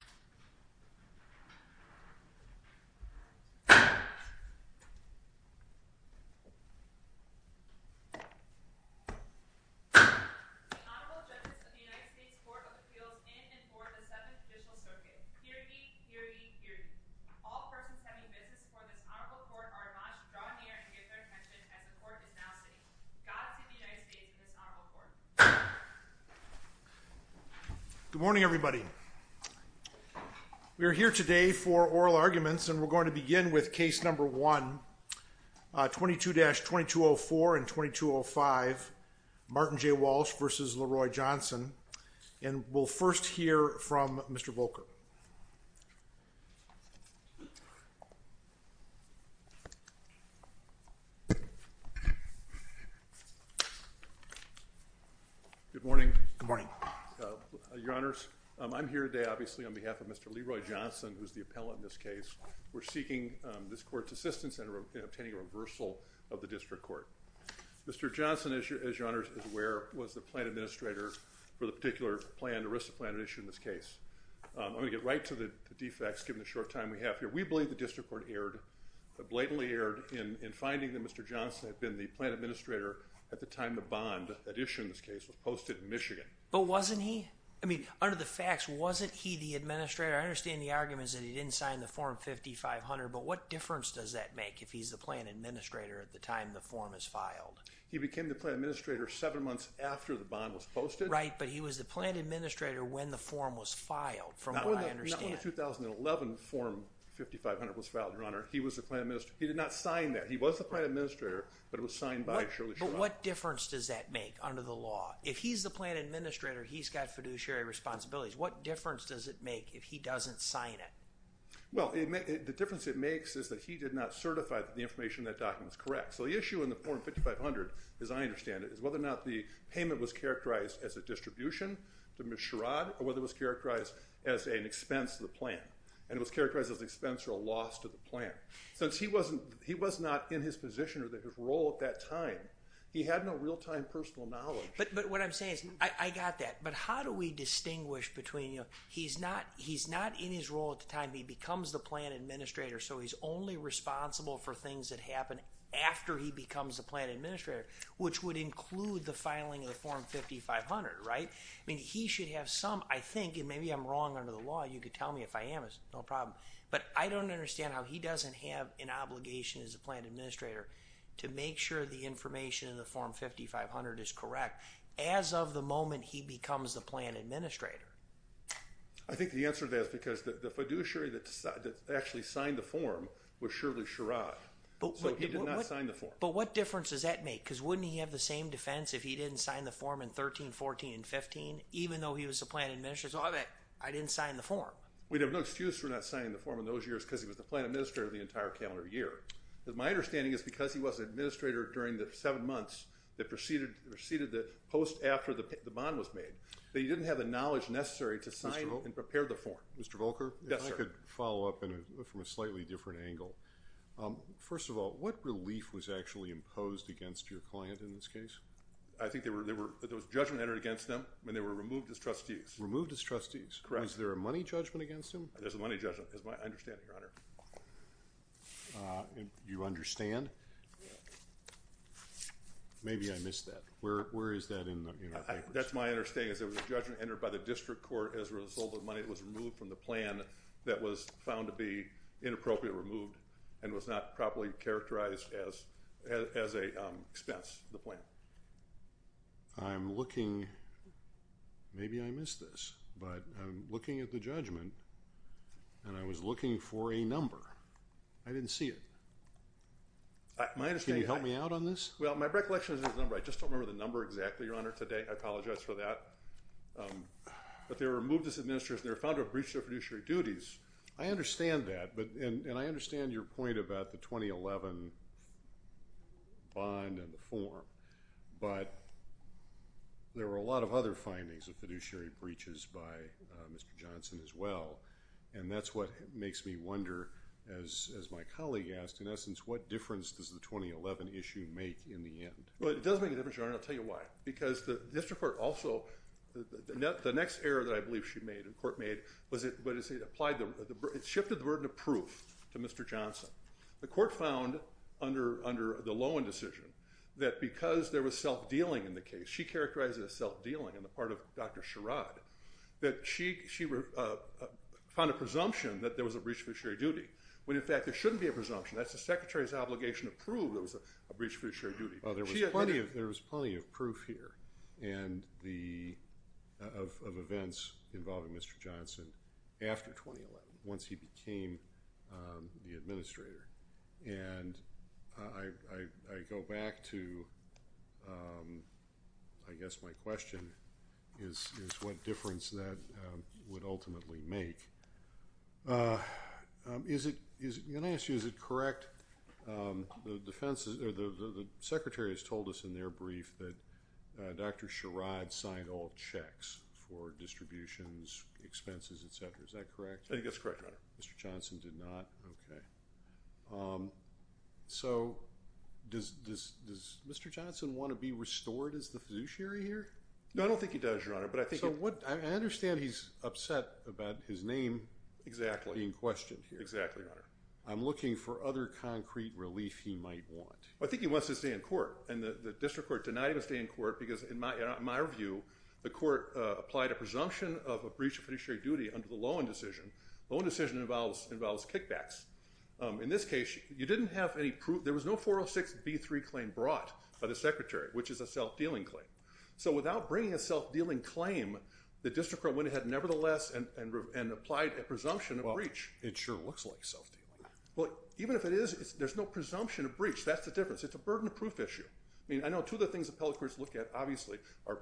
The Honorable Judges of the United States Court of Appeals in and for the Seventh Judicial Circuit. Hear ye! Hear ye! Hear ye! All persons having business for this honorable court are admonished to draw near and give their attention as the court is now sitting. God speed the United States and this honorable court. Good morning, everybody. We are here today for oral arguments and we're going to begin with case number 1, 22-2204 and 2205, Martin J. Walsh v. Leroy Johnson. And we'll first hear from Mr. Volker. Good morning. Good morning. Your Honors, I'm here today, obviously, on behalf of Mr. Leroy Johnson, who's the appellant in this case. We're seeking this court's assistance in obtaining a reversal of the district court. Mr. Johnson, as your Honors is aware, was the plan administrator for the particular plan, ERISA plan, issued in this case. I'm going to get right to the defects given the short time we have here. We believe the district court erred, blatantly erred, in finding that Mr. Johnson had been the plan administrator at the time the bond that issued in this case was posted in Michigan. But wasn't he? I mean, under the facts, wasn't he the administrator? I understand the argument is that he didn't sign the form 5500, but what difference does that make if he's the plan administrator at the time the form is filed? He became the plan administrator seven months after the bond was posted. Right, but he was the plan administrator when the form was filed, from what I understand. Not when the 2011 form 5500 was filed, Your Honor. He was the plan administrator. He did not sign that. He was the plan administrator, but it was signed by Shirley Sherrod. But what difference does that make under the law? If he's the plan administrator, he's got fiduciary responsibilities. What difference does it make if he doesn't sign it? Well, the difference it makes is that he did not certify that the information in that document is correct. So the issue in the form 5500, as I understand it, is whether or not the payment was characterized as a distribution to Ms. Sherrod, or whether it was characterized as an expense to the plan, and it was characterized as an expense or a loss to the plan. So he was not in his position or his role at that time. He had no real-time personal knowledge. But what I'm saying is, I got that. But how do we distinguish between, you know, he's not in his role at the time. He becomes the plan administrator, so he's only responsible for things that happen after he becomes the plan administrator, which would include the filing of the form 5500, right? I mean, he should have some, I think, and maybe I'm wrong under the law. You could tell me if I am. It's no problem. But I don't understand how he doesn't have an obligation as a plan administrator to make sure the information in the form 5500 is correct as of the moment he becomes the plan administrator. I think the answer to that is because the fiduciary that actually signed the form was Shirley Sherrod. So he did not sign the form. But what difference does that make? Because wouldn't he have the same defense if he didn't sign the form in 13, 14, and 15, even though he was the plan administrator? So I bet I didn't sign the form. We'd have no excuse for not signing the form in those years because he was the plan administrator the entire calendar year. My understanding is because he was an administrator during the seven months that preceded the post after the bond was made, that he didn't have the knowledge necessary to sign and prepare the form. Mr. Volker? Yes, sir. If I could follow up from a slightly different angle. First of all, what relief was actually imposed against your client in this case? I think there was judgment entered against them, and they were removed as trustees. Removed as trustees. Correct. Is there a money judgment against him? There's a money judgment, is my understanding, your honor. Do you understand? Maybe I missed that. Where is that in the papers? That's my understanding is there was a judgment entered by the district court as a result of money that was removed from the plan that was found to be inappropriately removed and was not properly characterized as an expense to the plan. I'm looking, maybe I missed this, but I'm looking at the judgment, and I was looking for a number. I didn't see it. Can you help me out on this? Well, my recollection is there's a number. I just don't remember the number exactly, your honor, today. I apologize for that. But they were removed as administrators, and they were found to have breached their fiduciary duties. I understand that. And I understand your point about the 2011 bond and the form. But there were a lot of other findings of fiduciary breaches by Mr. Johnson as well. And that's what makes me wonder, as my colleague asked, in essence, what difference does the 2011 issue make in the end? Well, it does make a difference, your honor, and I'll tell you why. Because the district court also, the next error that I believe she made, the court made, it shifted the word to proof to Mr. Johnson. The court found under the Lowen decision that because there was self-dealing in the case, she characterized it as self-dealing on the part of Dr. Sherrod, that she found a presumption that there was a breach of fiduciary duty, when in fact there shouldn't be a presumption. That's the secretary's obligation to prove there was a breach of fiduciary duty. Well, there was plenty of proof here of events involving Mr. Johnson after 2011, once he became the administrator. And I go back to, I guess my question is what difference that would ultimately make. Can I ask you, is it correct? The defense, the secretary has told us in their brief that Dr. Sherrod signed all checks for distributions, expenses, etc. Is that correct? I think that's correct, your honor. Mr. Johnson did not? Okay. So, does Mr. Johnson want to be restored as the fiduciary here? No, I don't think he does, your honor. I understand he's upset about his name being questioned here. Exactly, your honor. I'm looking for other concrete relief he might want. I think he wants to stay in court, and the district court denied him a stay in court because in my review, the court applied a presumption of a breach of fiduciary duty under the Lowen decision. The Lowen decision involves kickbacks. In this case, you didn't have any proof. There was no 406B3 claim brought by the secretary, which is a self-dealing claim. So, without bringing a self-dealing claim, the district court went ahead nevertheless and applied a presumption of breach. It sure looks like self-dealing. Well, even if it is, there's no presumption of breach. That's the difference. It's a burden of proof issue. I mean, I know two of the things the appellate courts look at, obviously, are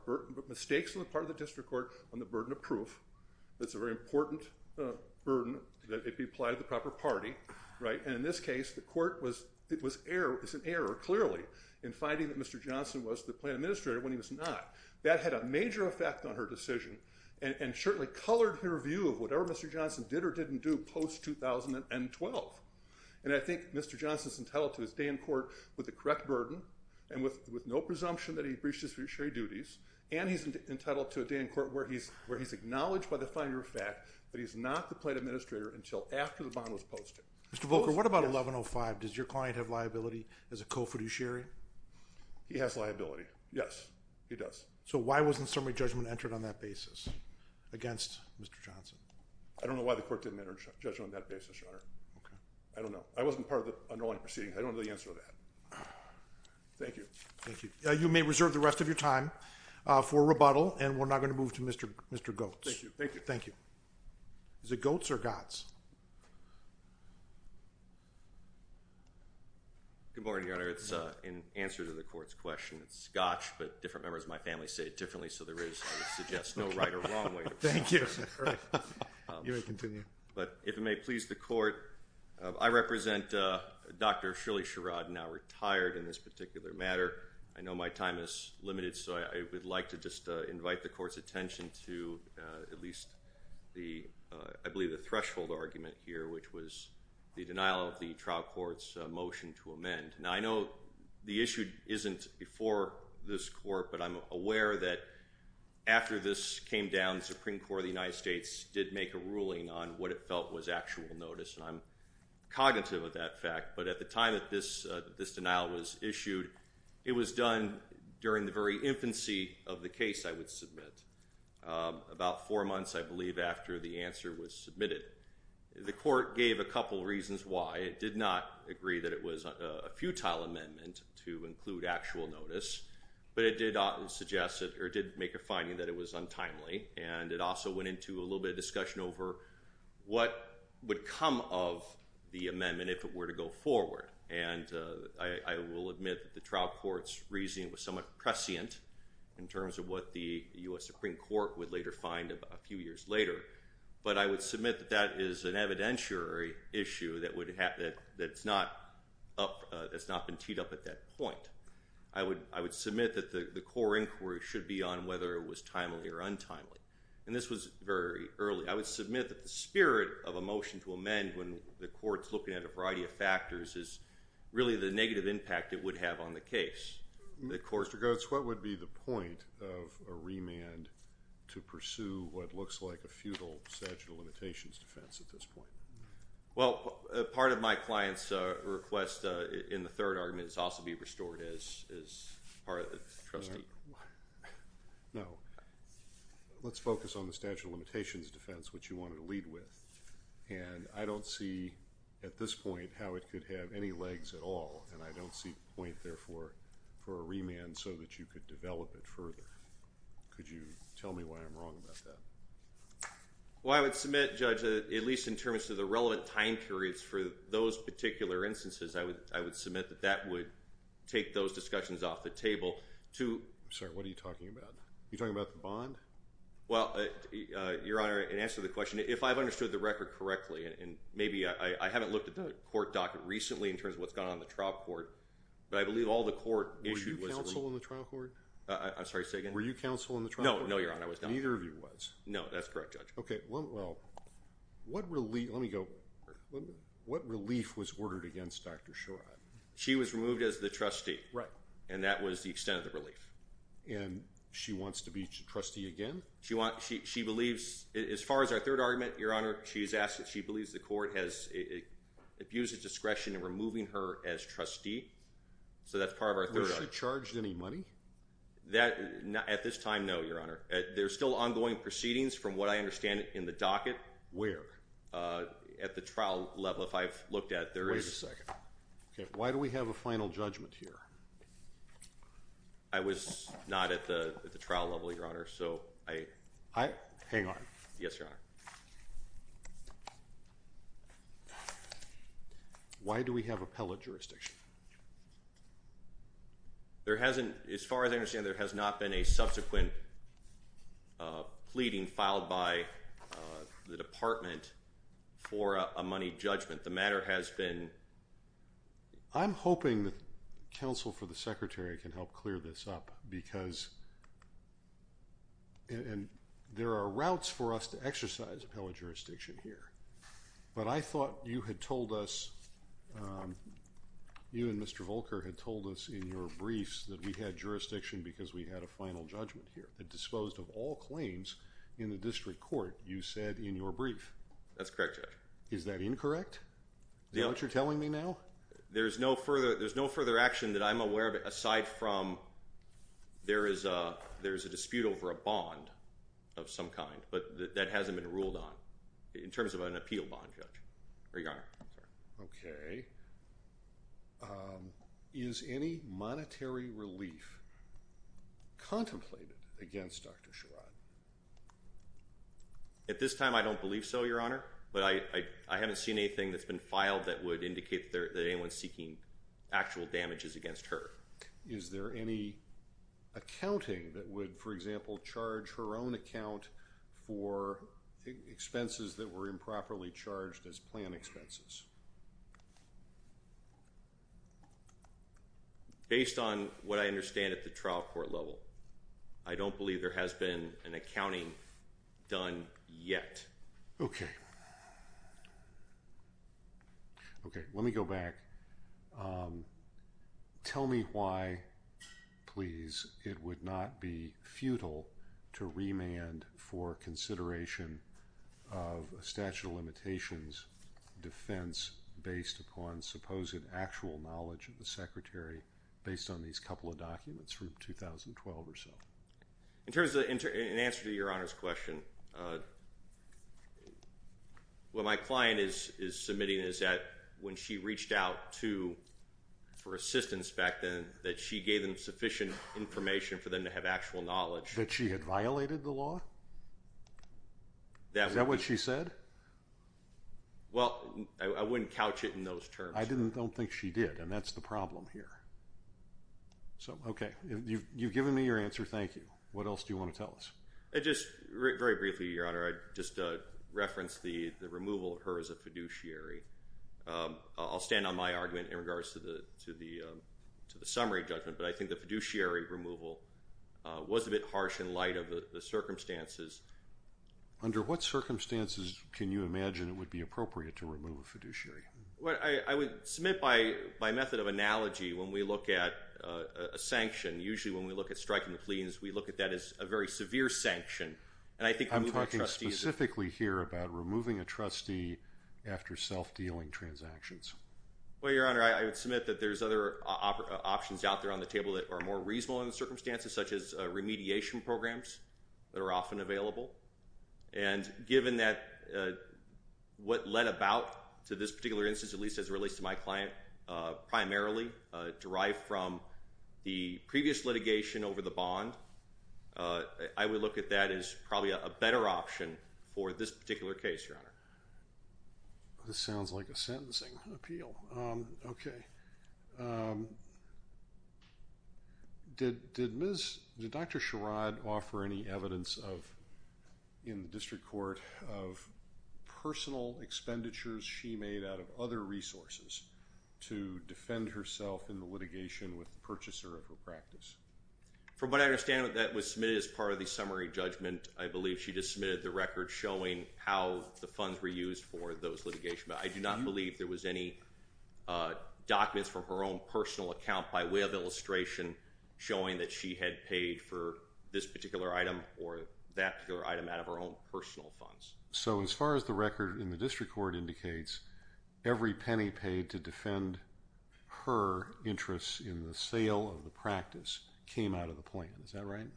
mistakes on the part of the district court on the burden of proof. That's a very important burden that it be applied to the proper party, right? And in this case, the court was an error, clearly, in finding that Mr. Johnson was the plan administrator when he was not. That had a major effect on her decision and certainly colored her view of whatever Mr. Johnson did or didn't do post-2012. And I think Mr. Johnson's entitled to his day in court with the correct burden and with no presumption that he breached his fiduciary duties, and he's entitled to a day in court where he's acknowledged by the finer of fact that he's not the plan administrator until after the bond was posted. Mr. Volker, what about 1105? Does your client have liability as a co-fiduciary? He has liability. Yes, he does. So why wasn't summary judgment entered on that basis against Mr. Johnson? I don't know why the court didn't enter judgment on that basis, Your Honor. Okay. I don't know. I wasn't part of the underlying proceedings. I don't know the answer to that. Thank you. Thank you. You may reserve the rest of your time for rebuttal, and we're now going to move to Mr. Goetz. Thank you. Thank you. Thank you. Is it Goetz or Gotz? Good morning, Your Honor. It's in answer to the court's question. It's Gotz, but different members of my family say it differently, so there is, I would suggest, no right or wrong way to pronounce it. Thank you. You may continue. But if it may please the court, I represent Dr. Shirley Sherrod, now retired in this particular matter. I know my time is limited, so I would like to just invite the court's attention to at least the, I believe the threshold argument here, which was the denial of the trial court's motion to amend. Now, I know the issue isn't before this court, but I'm aware that after this came down, the Supreme Court of the United States did make a ruling on what it felt was actual notice, and I'm cognitive of that fact. But at the time that this denial was issued, it was done during the very infancy of the case I would submit, about four months, I believe, after the answer was submitted. The court gave a couple reasons why. It did not agree that it was a futile amendment to include actual notice, but it did make a finding that it was untimely, and it also went into a little bit of discussion over what would come of the amendment if it were to go forward. And I will admit that the trial court's reasoning was somewhat prescient in terms of what the U.S. Supreme Court would later find a few years later, but I would submit that that is an evidentiary issue that's not been teed up at that point. I would submit that the core inquiry should be on whether it was timely or untimely, and this was very early. I would submit that the spirit of a motion to amend when the court's looking at a variety of factors is really the negative impact it would have on the case. Mr. Goetz, what would be the point of a remand to pursue what looks like a futile statute of limitations defense at this point? Well, part of my client's request in the third argument is also be restored as part of the trustee. No. Let's focus on the statute of limitations defense, which you wanted to lead with, and I don't see at this point how it could have any legs at all, and I don't see a point there for a remand so that you could develop it further. Could you tell me why I'm wrong about that? Well, I would submit, Judge, at least in terms of the relevant time periods for those particular instances, I would submit that that would take those discussions off the table to... I'm sorry. What are you talking about? Are you talking about the bond? Well, Your Honor, in answer to the question, if I've understood the record correctly, and maybe I haven't looked at the court docket recently in terms of what's going on in the trial court, but I believe all the court issued... Were you counsel in the trial court? I'm sorry. Say again? Were you counsel in the trial court? No, Your Honor, I was not. Neither of you was. No, that's correct, Judge. Okay. Well, what relief... Let me go... What relief was ordered against Dr. Sherrod? She was removed as the trustee. Right. And that was the extent of the relief. And she wants to be trustee again? She believes... As far as our third argument, Your Honor, she believes the court has abused its discretion in removing her as a trustee. So, that's part of our third argument. Was she charged any money? That... At this time, no, Your Honor. There's still ongoing proceedings, from what I understand, in the docket. Where? At the trial level. If I've looked at, there is... Wait a second. Okay. Why do we have a final judgment here? I was not at the trial level, Your Honor, so I... I... Hang on. Yes, Your Honor. Why do we have appellate jurisdiction? There hasn't... As far as I understand, there has not been a subsequent pleading filed by the department for a money judgment. The matter has been... I'm hoping that counsel for the secretary can help clear this up, because... There are routes for us to exercise appellate jurisdiction here, but I thought you had told us... You and Mr. Volker had told us in your briefs that we had jurisdiction because we had a final judgment here. It disposed of all claims in the district court, you said, in your brief. That's correct, Your Honor. Is that incorrect? Is that what you're telling me now? There's no further... There's no further action that I'm aware of, aside from there is a... bond of some kind, but that hasn't been ruled on, in terms of an appeal bond, Judge, or Your Honor. Okay. Is any monetary relief contemplated against Dr. Sherrod? At this time, I don't believe so, Your Honor, but I haven't seen anything that's been filed that would indicate that anyone's seeking actual damages against her. Is there any accounting that would, for example, charge her own account for expenses that were improperly charged as plan expenses? Based on what I understand at the trial court level, I don't believe there has been an accounting done yet. Okay. Okay. Let me go back. Tell me why, please, it would not be futile to remand for consideration of a statute of limitations defense based upon supposed actual knowledge of the Secretary based on these couple of documents from 2012 or so. In terms of... In answer to Your Honor's question, what my client is submitting is that when she reached out to, for assistance back then, that she gave them sufficient information for them to have actual knowledge. That she had violated the law? Is that what she said? Well, I wouldn't couch it in those terms. I don't think she did, and that's the problem here. Okay. You've given me your answer. Thank you. What else do you want to tell us? Just very briefly, Your Honor, I'd just reference the removal of her as a fiduciary. I'll stand on my argument in regards to the summary judgment, but I think the fiduciary removal was a bit harsh in light of the circumstances. Under what circumstances can you imagine it would be appropriate to remove a fiduciary? I would submit by method of analogy, when we look at a sanction, usually when we look at striking a plea, that means we look at that as a very severe sanction. I'm talking specifically here about removing a trustee after self-dealing transactions. Well, Your Honor, I would submit that there's other options out there on the table that are more reasonable in the circumstances, such as remediation programs that are often available. And given that what led about to this particular instance, at least as it relates to my client, primarily derived from the previous litigation over the bond, I would look at that as probably a better option for this particular case, Your Honor. This sounds like a sentencing appeal. Okay. Did Dr. Sherrod offer any evidence in the district court of personal expenditures she made out of other resources to defend herself in the litigation with the purchaser of her practice? From what I understand, that was submitted as part of the summary judgment. I believe she just submitted the record showing how the funds were used for those litigation. But I do not believe there was any documents from her own personal account by way of illustration showing that she had paid for this particular item or that particular item out of her own personal funds. So as far as the record in the district court indicates, every penny paid to defend her interests in the sale of the practice came out of the plan. Is that right?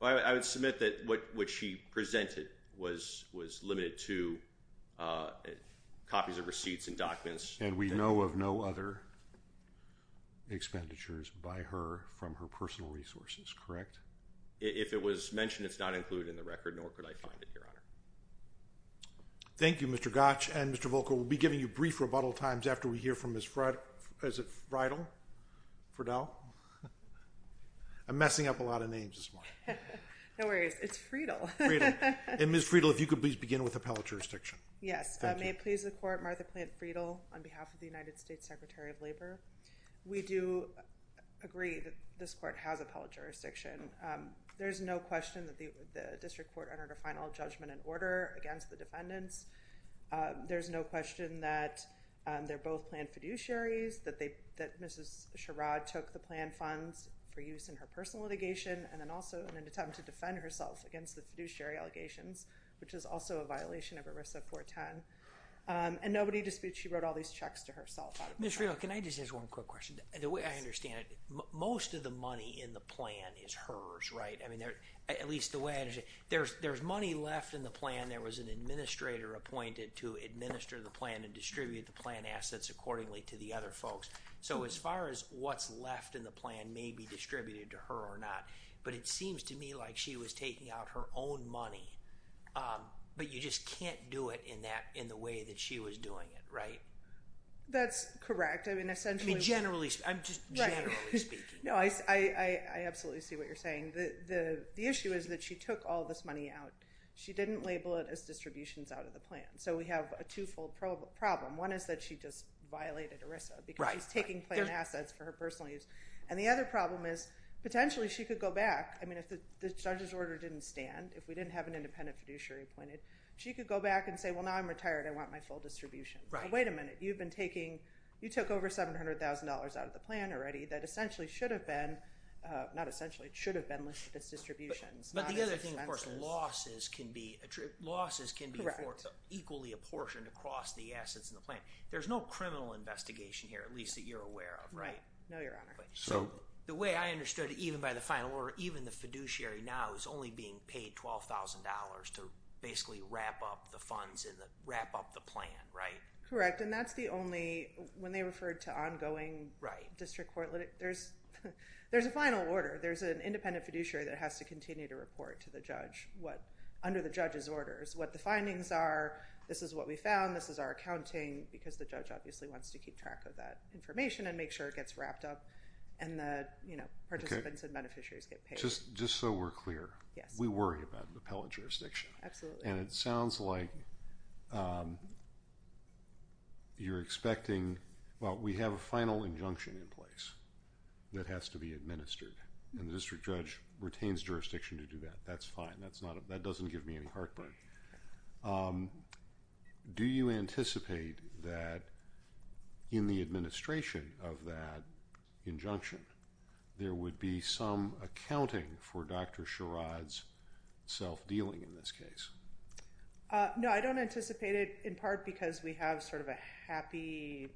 I would submit that what she presented was limited to copies of receipts and documents. And we know of no other expenditures by her from her personal resources, correct? If it was mentioned, it's not included in the record, nor could I find it, Your Honor. Thank you, Mr. Gottsch. And Mr. Volkow, we'll be giving you brief rebuttal times after we hear from Ms. Friedle. I'm messing up a lot of names this morning. No worries. It's Friedle. And Ms. Friedle, if you could please begin with appellate jurisdiction. Yes. May it please the court, Martha Plant Friedle on behalf of the United States Secretary of Labor. We do agree that this court has appellate jurisdiction. There's no question that the district court entered a final judgment in order against the defendants. There's no question that they're both planned fiduciaries, that they, that Mrs. Sherrod took the plan funds for use in her personal litigation. And then also in an attempt to defend herself against the fiduciary allegations, which is also a violation of ERISA 410 and nobody disputes. She wrote all these checks to herself. Ms. Friedle, can I just ask one quick question and the way I understand it, most of the money in the plan is hers, right? I mean, there, at least the way I understand it, there's, there's money left in the plan. There was an administrator appointed to administer the plan and distribute the plan assets accordingly to the other folks. So as far as what's left in the plan may be distributed to her or not, but it seems to me like she was taking out her own money. But you just can't do it in that, in the way that she was doing it. Right. That's correct. I mean, essentially. Generally, I'm just generally speaking. No, I, I, I absolutely see what you're saying. The, the, the issue is that she took all this money out. She didn't label it as distributions out of the plan. So we have a twofold problem. One is that she just violated ERISA because she's taking plan assets for her personal use. And the other problem is potentially she could go back. I mean, if the judge's order didn't stand, if we didn't have an independent fiduciary appointed, she could go back and say, well, now I'm retired. I want my full distribution. Wait a minute. You've been taking, you took over $700,000 out of the plan already that essentially should have been not essentially it should have been listed as distributions. But the other thing, of course, losses can be losses can be equally apportioned across the assets in the plan. There's no criminal investigation here, at least that you're aware of. Right. No, Your Honor. So the way I understood it, even by the final or even the fiduciary now is only being paid $12,000 to basically wrap up the funds in the wrap up the plan. Right. Correct. And that's the only when they referred to ongoing district court. There's, there's a final order. There's an independent fiduciary that has to continue to report to the judge. What under the judge's orders, what the findings are. This is what we found. This is our accounting because the judge obviously wants to keep track of that information and make sure it gets wrapped up. And the participants and beneficiaries get paid. Just so we're clear. Yes. We worry about an appellate jurisdiction. Absolutely. And it sounds like you're expecting, well, we have a final injunction in place that has to be administered and the district judge retains jurisdiction to do that. That's fine. That's not, that doesn't give me any heartburn. Do you anticipate that in the administration of that injunction, there would be some accounting for Dr. Dealing in this case? No, I don't anticipate it in part because we have sort of a happy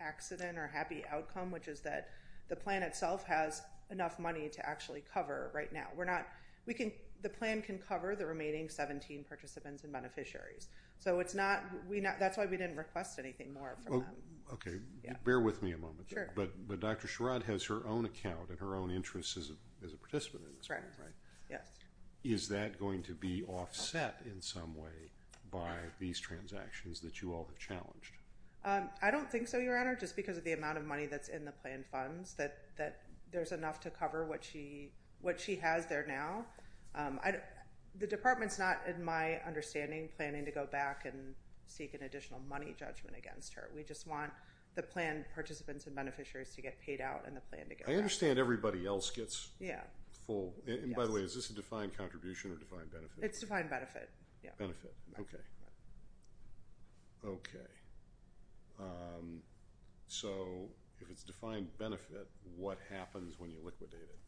accident or happy outcome, which is that the plan itself has enough money to actually cover right now. We're not, we can, the plan can cover the remaining 17 participants and beneficiaries. So it's not, we not, that's why we didn't request anything more. Okay. Bear with me a moment. But, but Dr. Sherrod has her own account and her own interests as a, as a participant in this. Right. Yes. Is that going to be offset in some way by these transactions that you all have challenged? I don't think so. Your honor, just because of the amount of money that's in the plan funds that, that there's enough to cover what she, what she has there now. I don't, the department's not in my understanding planning to go back and seek an additional money judgment against her. We just want the plan participants and beneficiaries to get paid out and the plan to get, I understand everybody else gets full. And by the way, is this a defined contribution or defined benefit? It's defined benefit. Yeah. Benefit. Okay. Okay. So if it's defined benefit, what happens when you liquidate it?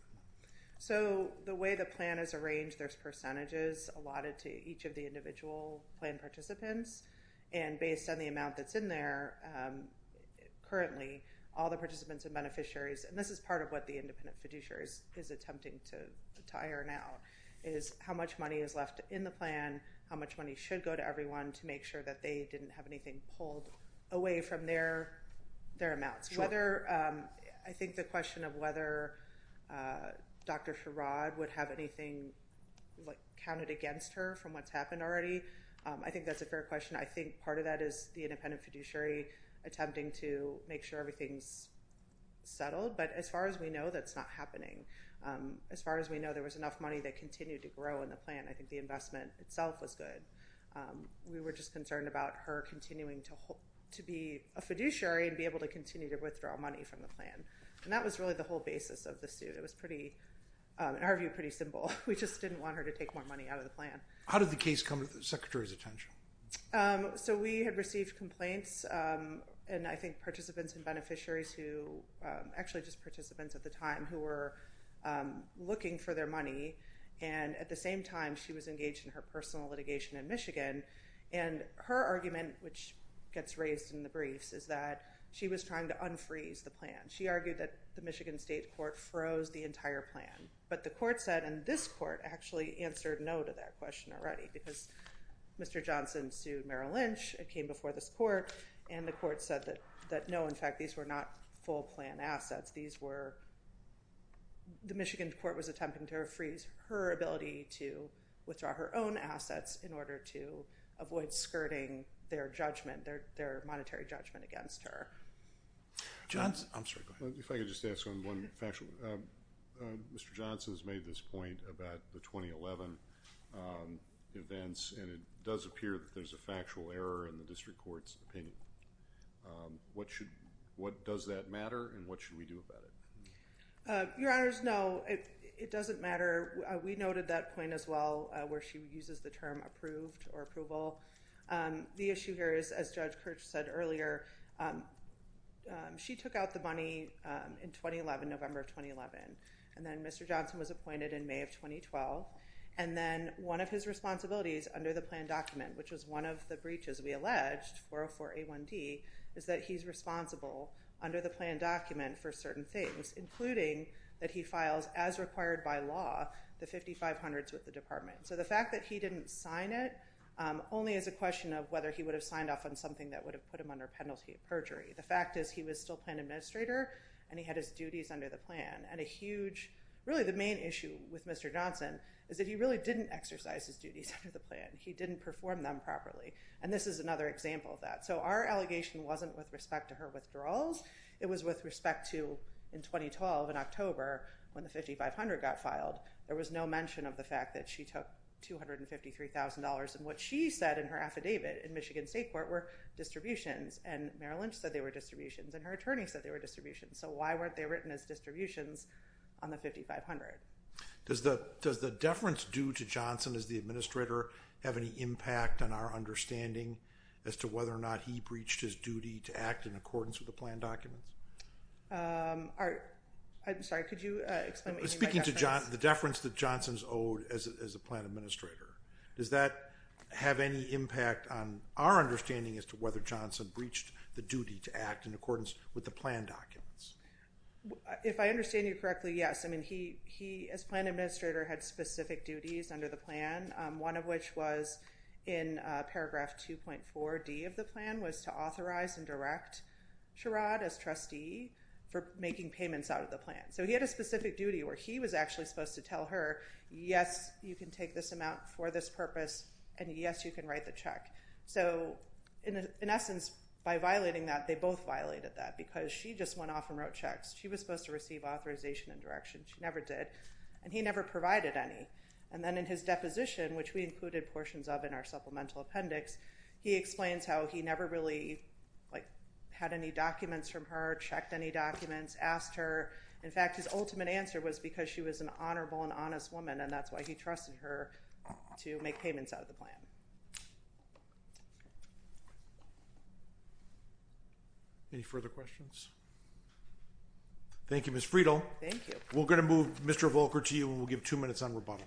So the way the plan is arranged, there's percentages allotted to each of the individual plan participants. And based on the amount that's in there, currently all the participants and beneficiaries, and this is part of what the independent fiduciary is, is attempting to tire now is how much money is left in the plan, how much money should go to everyone to make sure that they didn't have anything pulled away from their, their amounts. Whether I think the question of whether Dr. Sherrod would have anything like counted against her from what's happened already. I think that's a fair question. I think part of that is the independent fiduciary attempting to make sure everything's settled. But as far as we know, that's not happening. As far as we know, there was enough money that continued to grow in the plan. I think the investment itself was good. We were just concerned about her continuing to hope to be a fiduciary and be able to continue to withdraw money from the plan. And that was really the whole basis of the suit. It was pretty, in our view, pretty simple. We just didn't want her to take more money out of the plan. How did the case come to the secretary's attention? So we had received complaints. And I think participants and beneficiaries who, actually just participants at the time who were looking for their money. And at the same time, she was engaged in her personal litigation in Michigan and her argument, which gets raised in the briefs, is that she was trying to unfreeze the plan. She argued that the Michigan state court froze the entire plan, but the court said, and this court actually answered no to that question already because Mr. Johnson sued Merrill Lynch. It came before this court and the court said that, that no, in fact, these were not full plan assets. These were, the Michigan court was attempting to freeze her ability to withdraw her own assets in order to avoid skirting their judgment, their, their monetary judgment against her. Johnson. I'm sorry. Go ahead. If I could just ask on one fashion, Mr. Johnson has made this point about the 2011 events. And it does appear that there's a factual error in the district court's opinion. What should, what does that matter? And what should we do about it? Your honors? No, it doesn't matter. We noted that point as well, where she uses the term approved or approval. The issue here is, as judge Kirch said earlier, she took out the money in 2011, November of 2011. And then Mr. Johnson was appointed in May of 2012. And then one of his responsibilities under the plan document, which was one of the breaches we alleged for, for a one D is that he's responsible under the plan document for certain things, including that he files as required by law, the 5,500 with the department. So the fact that he didn't sign it, only as a question of whether he would have signed off on something that would have put him under penalty of perjury. The fact is he was still planned administrator and he had his duties under the plan and a huge, really the main issue with Mr. Johnson, is that he really didn't exercise his duties under the plan. He didn't perform them properly. And this is another example of that. So our allegation wasn't with respect to her withdrawals. It was with respect to in 2012 in October when the 5,500 got filed, there was no mention of the fact that she took $253,000. And what she said in her affidavit in Michigan state court were distributions and Merrill Lynch said they were distributions and her attorney said they were distributions. So why weren't they written as distributions on the 5,500? Does the, does the deference due to Johnson as the administrator have any impact on our understanding as to whether or not he breached his duty to act in accordance with the plan documents? I'm sorry, could you explain? Speaking to John, the deference that Johnson's owed as a, as a plan administrator, does that have any impact on our understanding as to whether Johnson breached the duty to act in accordance with the plan documents? If I understand you correctly? Yes. I mean, he, he as plan administrator had specific duties under the plan. One of which was in paragraph 2.4 D of the plan was to authorize and direct Sherrod as trustee for making payments out of the plan. So he had a specific duty where he was actually supposed to tell her, yes, you can take this amount for this purpose and yes, you can write the check. So in essence, by violating that, they both violated that because she just went off and wrote checks. She was supposed to receive authorization and direction. She never did. And he never provided any. And then in his deposition, which we included portions of in our supplemental appendix, he explains how he never really like had any documents from her, checked any documents, asked her. In fact, his ultimate answer was because she was an honorable and honest woman. And that's why he trusted her to make payments out of the plan. Any further questions? Thank you, Ms. Friedel. Thank you. We're going to move Mr. Volcker to you and we'll give two minutes on rebuttal.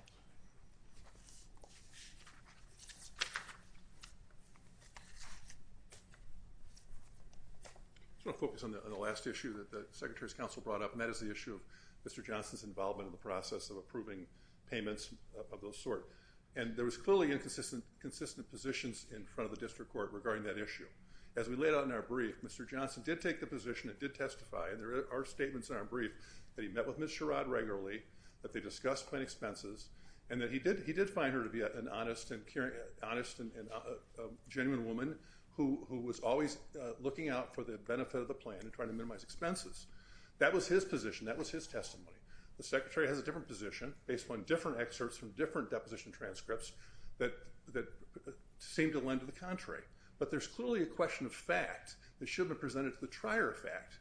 I just want to focus on the, on the last issue that the secretary's council brought up. And that is the issue of Mr. Johnson's involvement in the process of approving payments of those sort. And there was clearly inconsistent, consistent positions in front of the district court regarding that issue. As we laid out in our brief, Mr. Johnson did take the position. It did testify and there are statements in our brief that he met with Ms. Sherrod regularly, that they discussed plan expenses and that he did, he did find her to be an honest and caring, honest and genuine woman who, who was always looking out for the benefit of the plan and trying to minimize expenses. That was his position. That was his testimony. The secretary has a different position based on different excerpts from different deposition transcripts that, that seemed to lend to the contrary, but there's clearly a question of fact that should have been presented to the trier effect.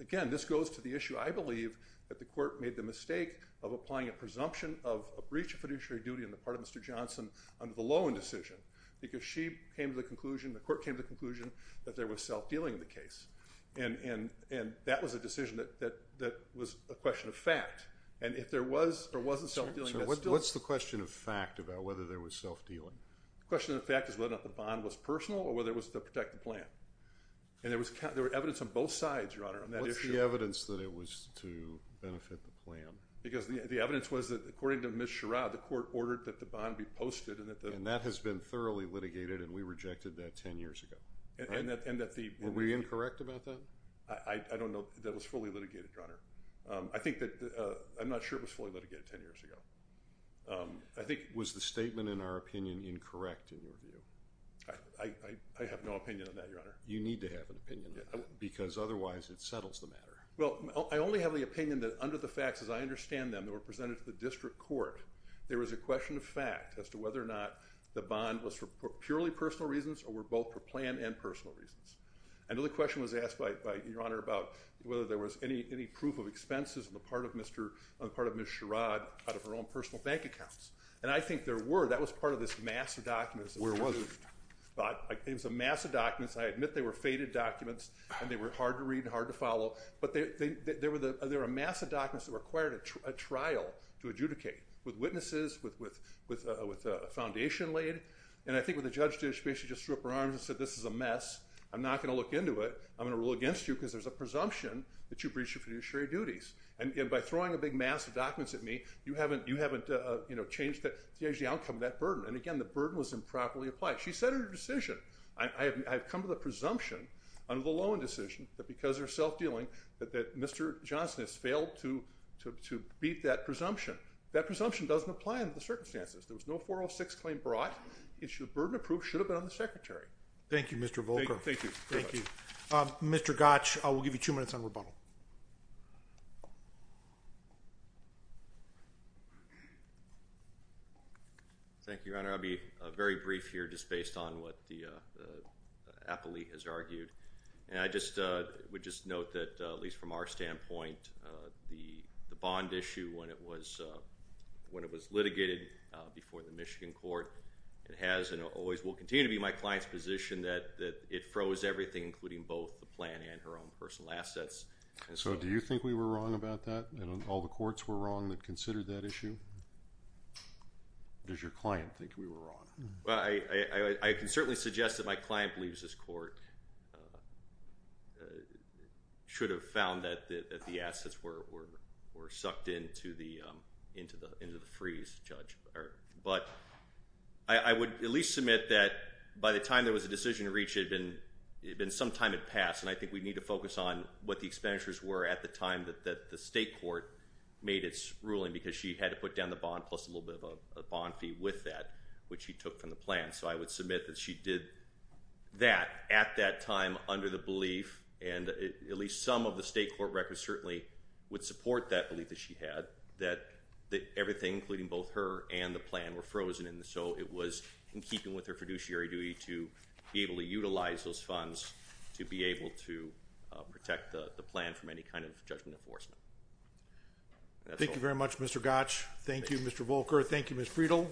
Again, this goes to the issue. I believe that the court made the mistake of applying a presumption of a breach of fiduciary duty on the part of Mr. Johnson under the loan decision, because she came to the conclusion, the court came to the conclusion that there was self-dealing in the case. And, and, and that was a decision that, that, that was a question of fact and if there was or wasn't self-dealing. What's the question of fact about whether there was self-dealing? The question of fact is whether or not the bond was personal or whether it was to protect the plan. And there was, there was evidence on both sides your honor on that issue. What's the evidence that it was to benefit the plan? Because the, the evidence was that according to Ms. Sherrod, the court ordered that the bond be posted and that the, And that has been thoroughly litigated and we rejected that 10 years ago. And that, and that the, Were we incorrect about that? I don't know that it was fully litigated your honor. I think that I'm not sure it was fully litigated 10 years ago. I think, Was the statement in our opinion incorrect in your view? I, I, I have no opinion on that your honor. You need to have an opinion because otherwise it settles the matter. Well, I only have the opinion that under the facts, as I understand them that were presented to the district court, there was a question of fact as to whether or not the bond was for purely personal reasons or were both for plan and personal reasons. And the question was asked by your honor about whether there was any, any proof of expenses on the part of Mr. On part of Ms. Sherrod out of her own personal bank accounts. And I think there were, that was part of this massive documents. It was a massive documents. I admit they were faded documents and they were hard to read and hard to follow, but they, they, they, there were the, there are a massive documents that required a trial to adjudicate with witnesses, with, with, with, with a foundation laid. And I think what the judge did, she basically just threw up her arms and said, this is a mess. I'm not going to look into it. I'm going to rule against you because there's a presumption that you breached your fiduciary duties. And by throwing a big, massive documents at me, you haven't, you haven't, uh, you know, changed the change, the outcome of that burden. And again, the burden was improperly applied. She said her decision. I, I have, I've come to the presumption under the loan decision that because they're self-dealing that, that Mr. Johnson has failed to, to, to beat that presumption. That presumption doesn't apply in the circumstances. There was no 406 claim brought it should burden approved, should have been on the secretary. Thank you, Mr. Volcker. Thank you. Thank you, Mr. Gotch. I'll give you two minutes on rebuttal. Thank you, Your Honor. I'll be a very brief here, just based on what the, uh, uh, appellee has argued. And I just, uh, would just note that, uh, at least from our standpoint, uh, the, the bond issue when it was, uh, when it was litigated, uh, before the Michigan court, it has, and always will continue to be my client's position that, that it froze everything, including both the plan and her own personal assets. So do you think we were wrong about that? And all the courts were wrong that considered that issue? Does your client think we were wrong? Well, I, I, I can certainly suggest that my client believes this court, uh, uh, should have found that the, that the assets were, were, were sucked into the, um, into the, into the freeze, Judge. But I, I would at least submit that by the time there was a decision to reach it had been, it had been some time had passed. And I think we need to focus on what the expenditures were at the time that, that the state court made its ruling because she had to put down the bond plus a little bit of a bond fee with that, which he took from the plan. So I would submit that she did that at that time under the belief. And at least some of the state court records certainly would support that belief that she had that, that everything including both her and the plan were frozen in the, so it was in keeping with her fiduciary duty to be able to utilize those funds to be able to protect the plan from any kind of judgment enforcement. Thank you very much, Mr. Gotch. Thank you, Mr. Volcker. Thank you, Ms. Friedel.